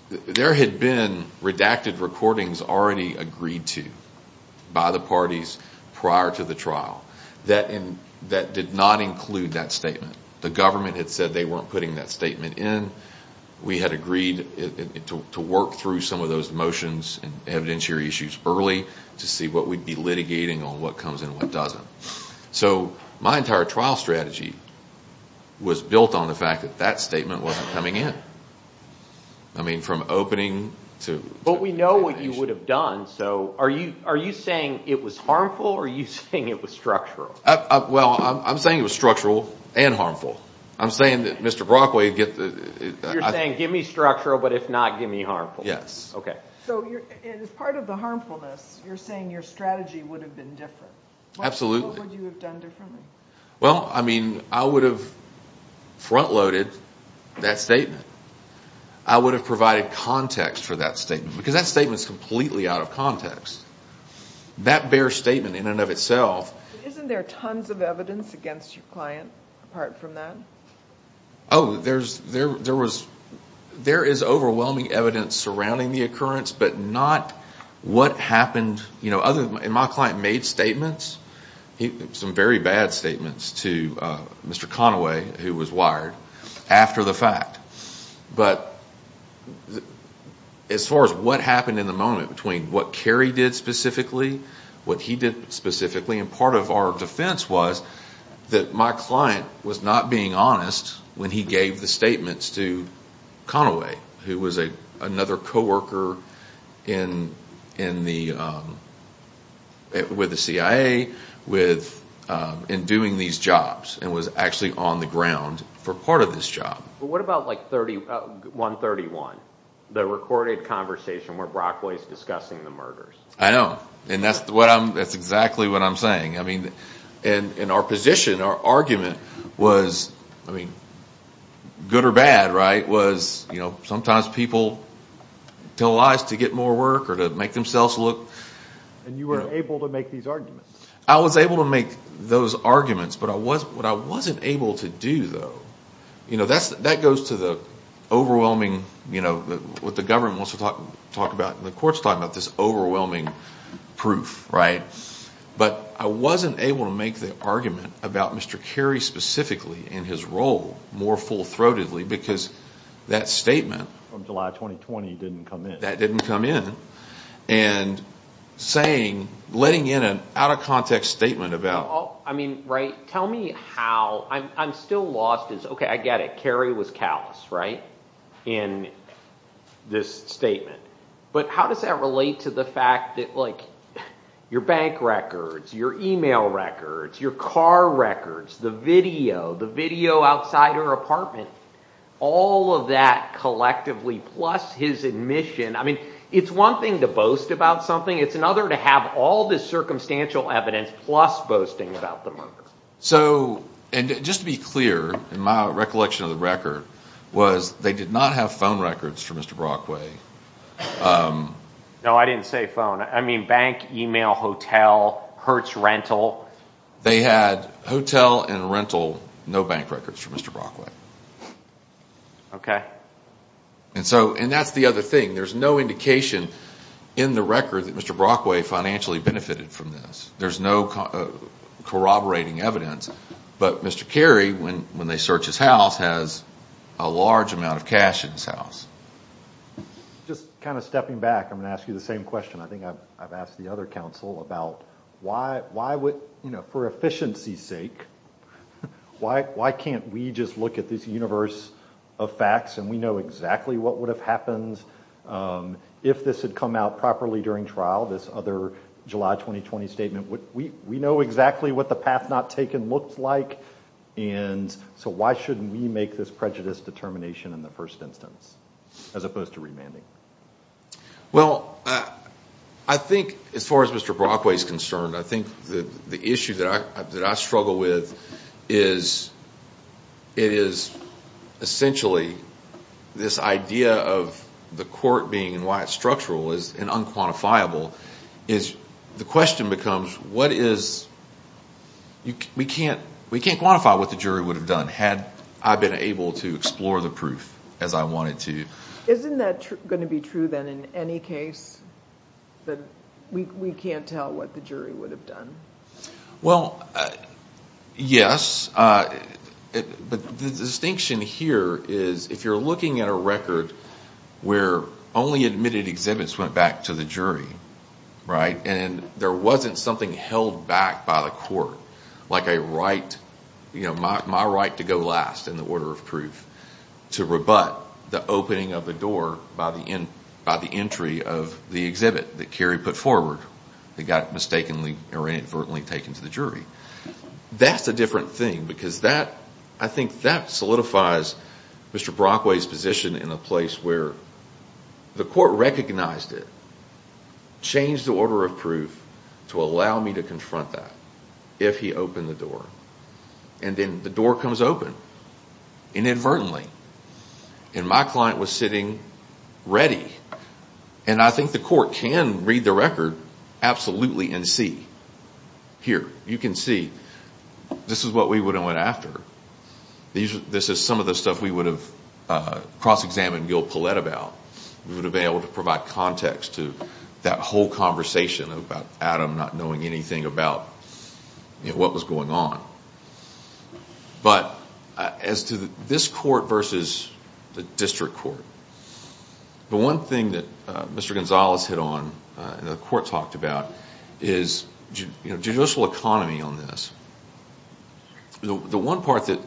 There had been redacted recordings already agreed to by the parties prior to the trial that did not include that statement. The government had said they weren't putting that statement in. We had agreed to work through some of those motions and evidentiary issues early to see what we'd be litigating on what comes in and what doesn't. So my entire trial strategy was built on the fact that that statement wasn't coming in. I mean, from opening to… But we know what you would have done. So are you saying it was harmful or are you saying it was structural? Well, I'm saying it was structural and harmful. I'm saying that Mr. Brockway… You're saying, give me structural, but if not, give me harmful. Yes. Okay. So as part of the harmfulness, you're saying your strategy would have been different. Absolutely. What would you have done differently? Well, I mean, I would have front-loaded that statement. I would have provided context for that statement because that statement is completely out of context. That bare statement in and of itself… Isn't there tons of evidence against your client apart from that? Oh, there is overwhelming evidence surrounding the occurrence, but not what happened. My client made statements, some very bad statements, to Mr. Conaway, who was wired, after the fact. But as far as what happened in the moment between what Kerry did specifically, what he did specifically, and part of our defense was that my client was not being honest when he gave the statements to Conaway, who was another coworker with the CIA in doing these jobs and was actually on the ground for part of this job. But what about 131, the recorded conversation where Brockway is discussing the murders? I know, and that's exactly what I'm saying. And our position, our argument was, I mean, good or bad, right, was sometimes people tell lies to get more work or to make themselves look… And you were able to make these arguments. I was able to make those arguments, but what I wasn't able to do, though, that goes to the overwhelming, what the government wants to talk about and the court's talking about, this overwhelming proof, right? But I wasn't able to make the argument about Mr. Kerry specifically and his role more full-throatedly because that statement… From July 2020 didn't come in. That didn't come in. And saying, letting in an out-of-context statement about… I mean, right, tell me how, I'm still lost as, okay, I get it, Kerry was callous, right, in this statement. But how does that relate to the fact that your bank records, your email records, your car records, the video, the video outside her apartment, all of that collectively plus his admission, I mean, it's one thing to boast about something. It's another to have all this circumstantial evidence plus boasting about the murders. So – and just to be clear in my recollection of the record was they did not have phone records for Mr. Brockway. No, I didn't say phone. I mean bank, email, hotel, Hertz rental. They had hotel and rental, no bank records for Mr. Brockway. Okay. And so – and that's the other thing. There's no indication in the record that Mr. Brockway financially benefited from this. There's no corroborating evidence. But Mr. Kerry, when they search his house, has a large amount of cash in his house. Just kind of stepping back, I'm going to ask you the same question. I think I've asked the other counsel about why would – you know, for efficiency's sake, why can't we just look at this universe of facts and we know exactly what would have happened if this had come out properly during trial, this other July 2020 statement. We know exactly what the path not taken looked like, and so why shouldn't we make this prejudice determination in the first instance as opposed to remanding? Well, I think as far as Mr. Brockway is concerned, I think the issue that I struggle with is – it is essentially this idea of the court being, and why it's structural and unquantifiable, is the question becomes what is – we can't quantify what the jury would have done had I been able to explore the proof as I wanted to. Isn't that going to be true then in any case, that we can't tell what the jury would have done? Well, yes, but the distinction here is if you're looking at a record where only admitted exhibits went back to the jury, right, and there wasn't something held back by the court like a right – you know, my right to go last in the order of proof to rebut the opening of the door by the entry of the exhibit that Kerry put forward that got mistakenly or inadvertently taken to the jury. That's a different thing because that – I think that solidifies Mr. Brockway's position in a place where the court recognized it, changed the order of proof to allow me to confront that if he opened the door, and then the door comes open inadvertently, and my client was sitting ready, and I think the court can read the record absolutely and see. Here, you can see this is what we would have went after. This is some of the stuff we would have cross-examined Gil Paulette about. We would have been able to provide context to that whole conversation about Adam not knowing anything about what was going on. But as to this court versus the district court, the one thing that Mr. Gonzalez hit on and the court talked about is judicial economy on this. The one part that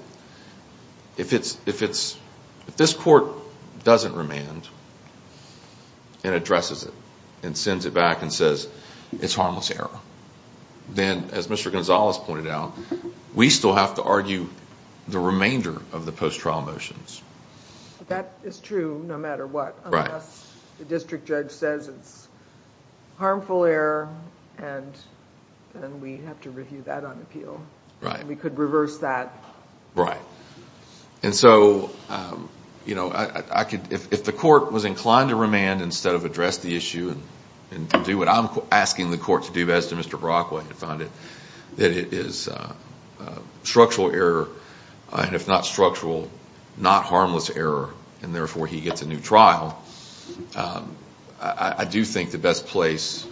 if it's – if this court doesn't remand and addresses it and sends it back and says it's harmless error, then as Mr. Gonzalez pointed out, we still have to argue the remainder of the post-trial motions. That is true no matter what. Unless the district judge says it's harmful error, then we have to review that on appeal. We could reverse that. And so if the court was inclined to remand instead of address the issue and do what I'm asking the court to do, as to Mr. Brockway had found it, that it is structural error, and if not structural, not harmless error, and therefore he gets a new trial, I do think the best place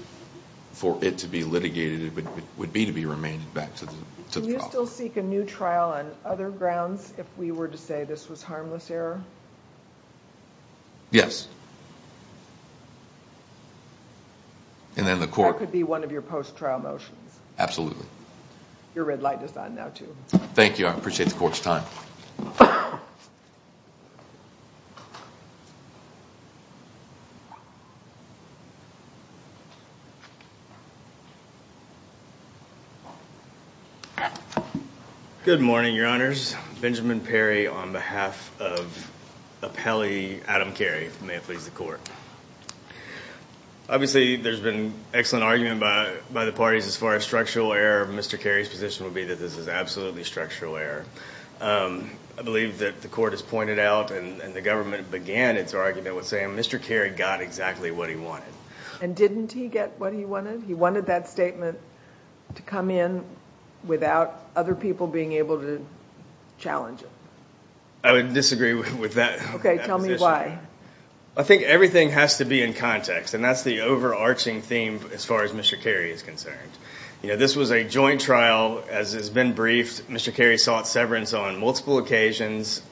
for it to be litigated would be to be remanded back to the court. Do you still seek a new trial on other grounds if we were to say this was harmless error? Yes. And then the court – That could be one of your post-trial motions. Absolutely. Your red light is on now, too. Thank you. I appreciate the court's time. Good morning, Your Honors. Benjamin Perry on behalf of appellee Adam Carey, if it may please the court. Obviously, there's been excellent argument by the parties as far as structural error. Mr. Carey's position would be that this is absolutely structural error. I believe that the court has pointed out and the government began its argument with saying Mr. Carey got exactly what he wanted. And didn't he get what he wanted? He wanted that statement to come in without other people being able to challenge it. I would disagree with that position. Okay, tell me why. I think everything has to be in context, and that's the overarching theme as far as Mr. Carey is concerned. You know, this was a joint trial. As has been briefed, Mr. Carey sought severance on multiple occasions.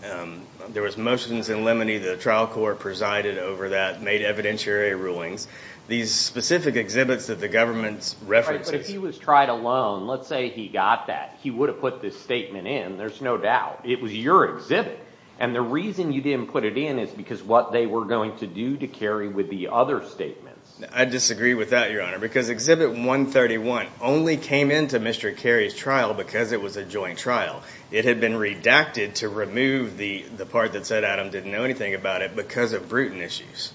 There was motions in Lemony. The trial court presided over that, made evidentiary rulings. These specific exhibits that the government references. But if he was tried alone, let's say he got that, he would have put this statement in, there's no doubt. It was your exhibit, and the reason you didn't put it in is because what they were going to do to Carey with the other statements. I disagree with that, Your Honor, because Exhibit 131 only came into Mr. Carey's trial because it was a joint trial. It had been redacted to remove the part that said Adam didn't know anything about it because of brutal issues.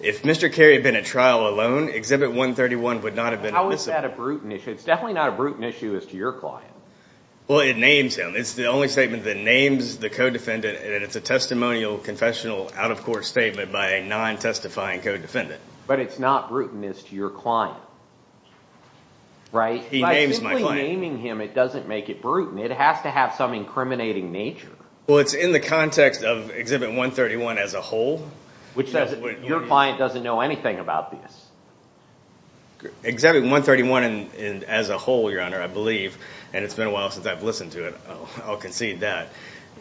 If Mr. Carey had been at trial alone, Exhibit 131 would not have been elicited. How is that a brutal issue? It's definitely not a brutal issue as to your client. Well, it names him. It's the only statement that names the co-defendant, and it's a testimonial, confessional, out-of-court statement by a non-testifying co-defendant. But it's not brutal as to your client, right? He names my client. By simply naming him, it doesn't make it brutal. It has to have some incriminating nature. Well, it's in the context of Exhibit 131 as a whole. Which says that your client doesn't know anything about this. Exhibit 131 as a whole, Your Honor, I believe, and it's been a while since I've listened to it, I'll concede that.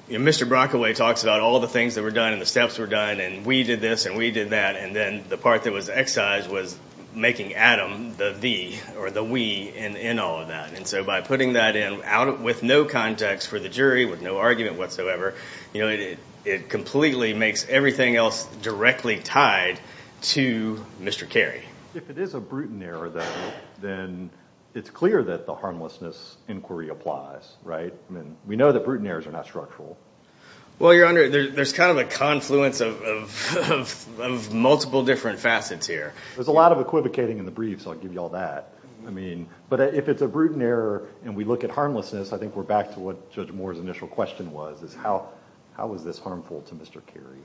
Mr. Brockaway talks about all the things that were done and the steps were done and we did this and we did that, and then the part that was excised was making Adam the we in all of that. And so by putting that in with no context for the jury, with no argument whatsoever, it completely makes everything else directly tied to Mr. Carey. If it is a brutal error, then it's clear that the harmlessness inquiry applies, right? We know that brutal errors are not structural. Well, Your Honor, there's kind of a confluence of multiple different facets here. There's a lot of equivocating in the brief, so I'll give you all that. But if it's a brutal error and we look at harmlessness, I think we're back to what Judge Moore's initial question was, is how is this harmful to Mr. Carey?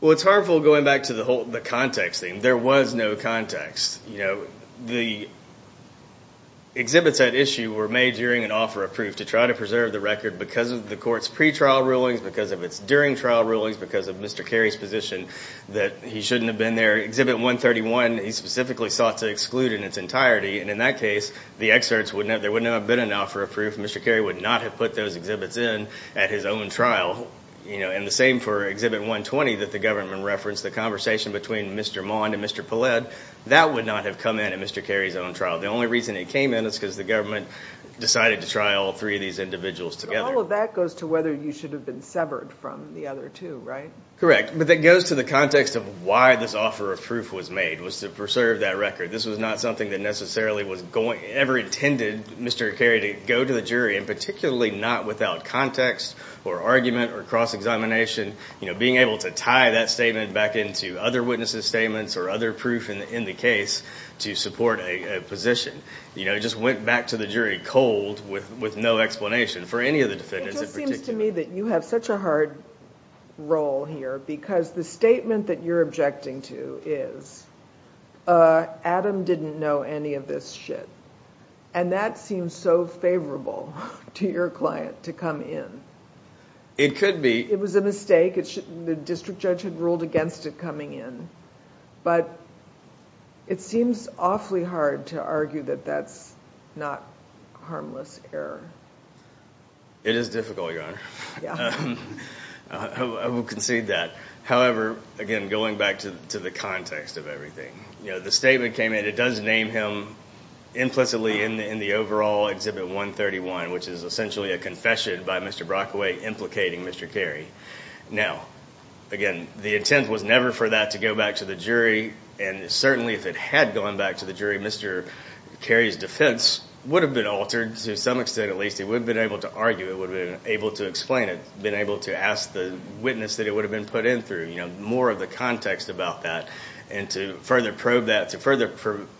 Well, it's harmful going back to the context thing. There was no context. The exhibits at issue were made during an offer of proof to try to preserve the record because of the court's pretrial rulings, because of its during trial rulings, because of Mr. Carey's position that he shouldn't have been there. Exhibit 131, he specifically sought to exclude in its entirety, and in that case, the excerpts, there would not have been an offer of proof. Mr. Carey would not have put those exhibits in at his own trial. And the same for Exhibit 120 that the government referenced, the conversation between Mr. Mond and Mr. Poled, that would not have come in at Mr. Carey's own trial. The only reason it came in is because the government decided to try all three of these individuals together. So all of that goes to whether you should have been severed from the other two, right? Correct, but that goes to the context of why this offer of proof was made, was to preserve that record. This was not something that necessarily was ever intended, Mr. Carey, to go to the jury, and particularly not without context or argument or cross-examination, being able to tie that statement back into other witnesses' statements or other proof in the case to support a position. It just went back to the jury cold with no explanation for any of the defendants in particular. It seems to me that you have such a hard role here because the statement that you're objecting to is, Adam didn't know any of this shit. And that seems so favorable to your client to come in. It could be. It was a mistake. The district judge had ruled against it coming in. But it seems awfully hard to argue that that's not harmless error. It is difficult, Your Honor. I will concede that. However, again, going back to the context of everything, the statement came in. It does name him implicitly in the overall Exhibit 131, which is essentially a confession by Mr. Brockaway implicating Mr. Carey. Now, again, the intent was never for that to go back to the jury, and certainly if it had gone back to the jury, Mr. Carey's defense would have been altered to some extent at least. It would have been able to argue. It would have been able to explain it, been able to ask the witness that it would have been put in through, more of the context about that and to further probe that, to further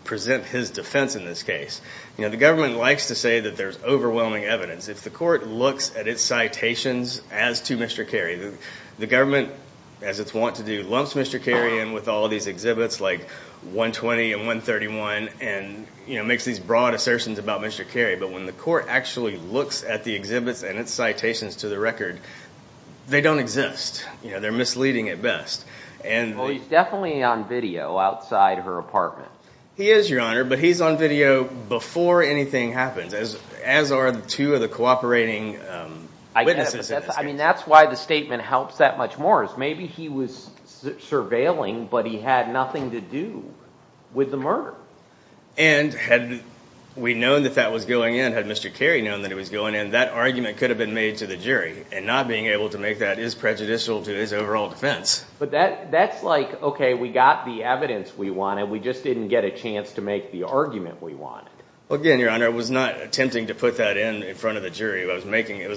present his defense in this case. The government likes to say that there's overwhelming evidence. If the court looks at its citations as to Mr. Carey, the government, as it's wont to do, and makes these broad assertions about Mr. Carey, but when the court actually looks at the exhibits and its citations to the record, they don't exist. They're misleading at best. Well, he's definitely on video outside her apartment. He is, Your Honor, but he's on video before anything happens, as are the two of the cooperating witnesses in this case. And had we known that that was going in, had Mr. Carey known that it was going in, that argument could have been made to the jury, and not being able to make that is prejudicial to his overall defense. But that's like, okay, we got the evidence we wanted. We just didn't get a chance to make the argument we wanted. Again, Your Honor, it was not attempting to put that in in front of the jury. It was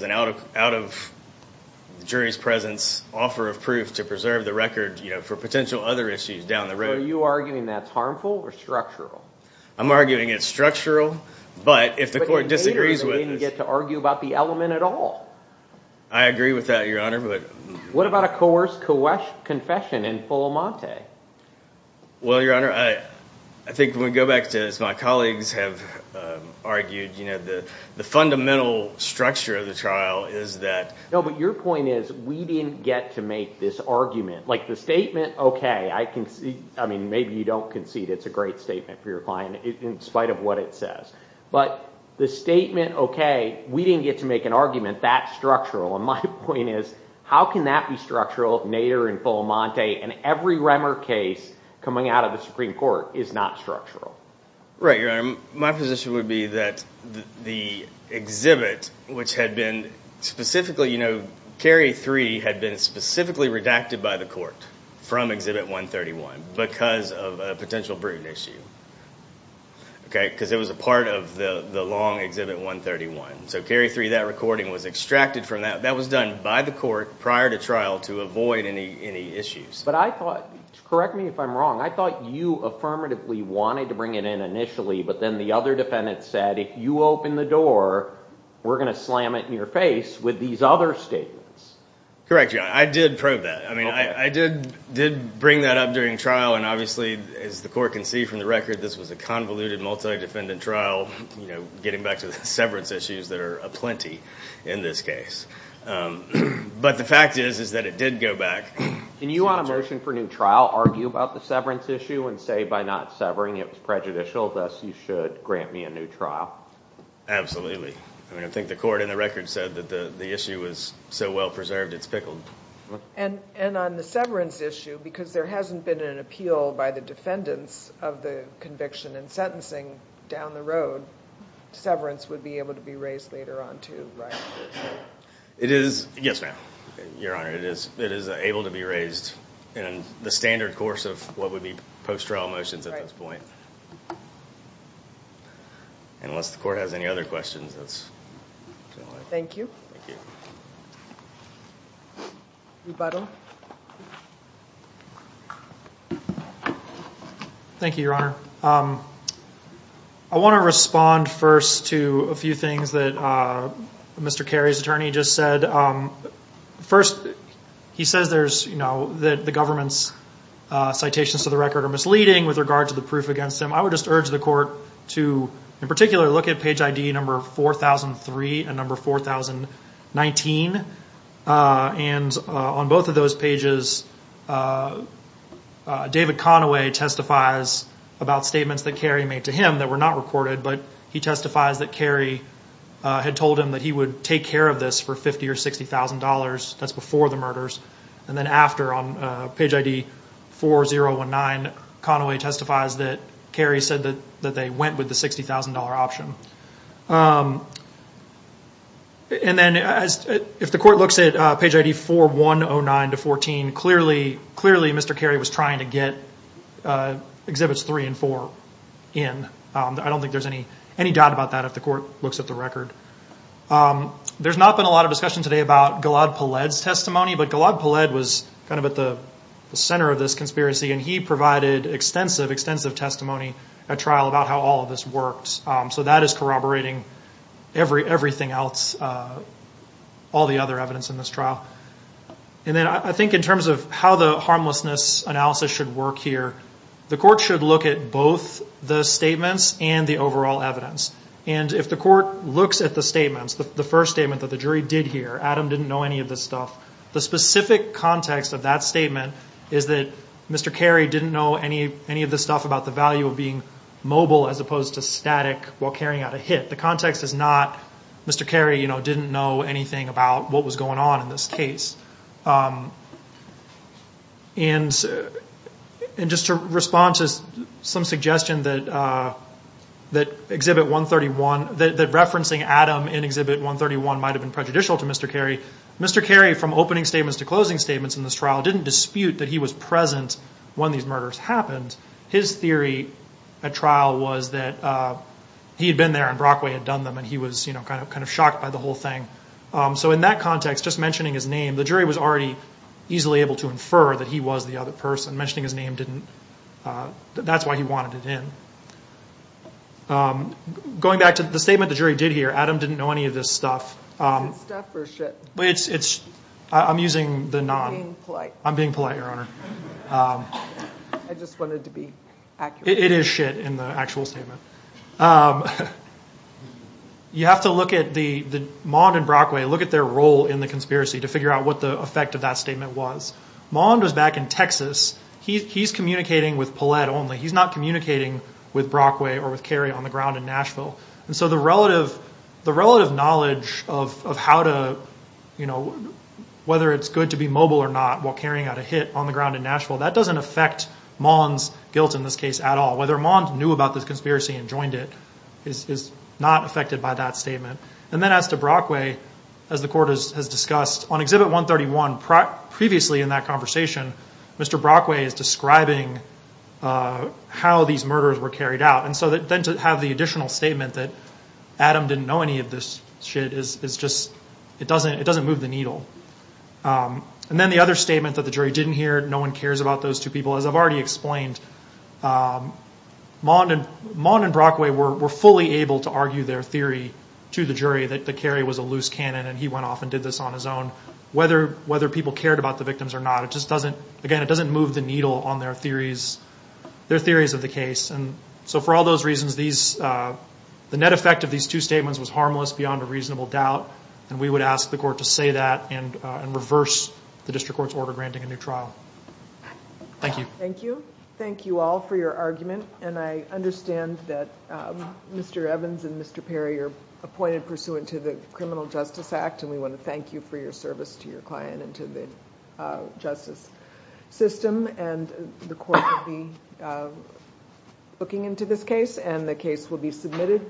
an out-of-jury's-presence offer of proof to preserve the record for potential other issues down the road. So are you arguing that's harmful or structural? I'm arguing it's structural, but if the court disagrees with it— But it later is a way to get to argue about the element at all. I agree with that, Your Honor, but— What about a coerced confession in Fullamonte? Well, Your Honor, I think when we go back to, as my colleagues have argued, the fundamental structure of the trial is that— No, but your point is we didn't get to make this argument. Like, the statement, okay, I concede— I mean, maybe you don't concede it's a great statement for your client in spite of what it says. But the statement, okay, we didn't get to make an argument that's structural. And my point is, how can that be structural? Nader and Fullamonte and every Remmer case coming out of the Supreme Court is not structural. Right, Your Honor. My position would be that the exhibit, which had been specifically— Cary 3 had been specifically redacted by the court from Exhibit 131 because of a potential brutal issue, because it was a part of the long Exhibit 131. So Cary 3, that recording was extracted from that. That was done by the court prior to trial to avoid any issues. But I thought—correct me if I'm wrong— I thought you affirmatively wanted to bring it in initially, but then the other defendant said, and if you open the door, we're going to slam it in your face with these other statements. Correct, Your Honor. I did probe that. I mean, I did bring that up during trial. And obviously, as the court can see from the record, this was a convoluted, multi-defendant trial, getting back to the severance issues that are aplenty in this case. But the fact is, is that it did go back. Can you, on a motion for new trial, argue about the severance issue and say, by not severing it was prejudicial, thus you should grant me a new trial? Absolutely. I mean, I think the court in the record said that the issue was so well-preserved, it's pickled. And on the severance issue, because there hasn't been an appeal by the defendants of the conviction and sentencing down the road, severance would be able to be raised later on too, right? It is—yes, ma'am, Your Honor. It is able to be raised in the standard course of what would be post-trial motions at this point. Unless the court has any other questions. Thank you. Rebuttal. Thank you, Your Honor. I want to respond first to a few things that Mr. Carey's attorney just said. First, he says that the government's citations to the record are misleading with regard to the proof against him. I would just urge the court to, in particular, look at page ID number 4003 and number 4019. And on both of those pages, David Conaway testifies about statements that Carey made to him that were not recorded, but he testifies that Carey had told him that he would take care of this for $50,000 or $60,000. That's before the murders. And then after, on page ID 4019, Conaway testifies that Carey said that they went with the $60,000 option. And then if the court looks at page ID 4109-14, clearly Mr. Carey was trying to get Exhibits 3 and 4 in. I don't think there's any doubt about that if the court looks at the record. There's not been a lot of discussion today about Gilad Poled's testimony, but Gilad Poled was kind of at the center of this conspiracy, and he provided extensive, extensive testimony at trial about how all of this worked. So that is corroborating everything else, all the other evidence in this trial. And then I think in terms of how the harmlessness analysis should work here, the court should look at both the statements and the overall evidence. And if the court looks at the statements, the first statement that the jury did hear, Adam didn't know any of this stuff, the specific context of that statement is that Mr. Carey didn't know any of this stuff about the value of being mobile as opposed to static while carrying out a hit. The context is not Mr. Carey didn't know anything about what was going on in this case. And just to respond to some suggestion that Exhibit 131, that referencing Adam in Exhibit 131 might have been prejudicial to Mr. Carey, Mr. Carey, from opening statements to closing statements in this trial, didn't dispute that he was present when these murders happened. His theory at trial was that he had been there and Brockway had done them, and he was kind of shocked by the whole thing. So in that context, just mentioning his name, the jury was already easily able to infer that he was the other person. Mentioning his name didn't, that's why he wanted it in. Going back to the statement the jury did hear, Adam didn't know any of this stuff. Is it stuff or shit? I'm using the non. You're being polite. I'm being polite, Your Honor. I just wanted to be accurate. It is shit in the actual statement. You have to look at the, Maund and Brockway, look at their role in the conspiracy to figure out what the effect of that statement was. Maund was back in Texas. He's communicating with Paulette only. He's not communicating with Brockway or with Carey on the ground in Nashville. And so the relative knowledge of how to, you know, whether it's good to be mobile or not while carrying out a hit on the ground in Nashville, that doesn't affect Maund's guilt in this case at all. Whether Maund knew about this conspiracy and joined it is not affected by that statement. And then as to Brockway, as the court has discussed, on Exhibit 131 previously in that conversation, Mr. Brockway is describing how these murders were carried out. And so then to have the additional statement that Adam didn't know any of this shit is just, it doesn't move the needle. And then the other statement that the jury didn't hear, no one cares about those two people, as I've already explained. Maund and Brockway were fully able to argue their theory to the jury that Carey was a loose cannon and he went off and did this on his own. Whether people cared about the victims or not, it just doesn't, again, it doesn't move the needle on their theories of the case. And so for all those reasons, the net effect of these two statements was harmless, beyond a reasonable doubt, and we would ask the court to say that and reverse the district court's order granting a new trial. Thank you. Thank you. Thank you all for your argument, and I understand that Mr. Evans and Mr. Perry are appointed pursuant to the Criminal Justice Act, and we want to thank you for your service to your client and to the justice system. And the court will be looking into this case, and the case will be submitted.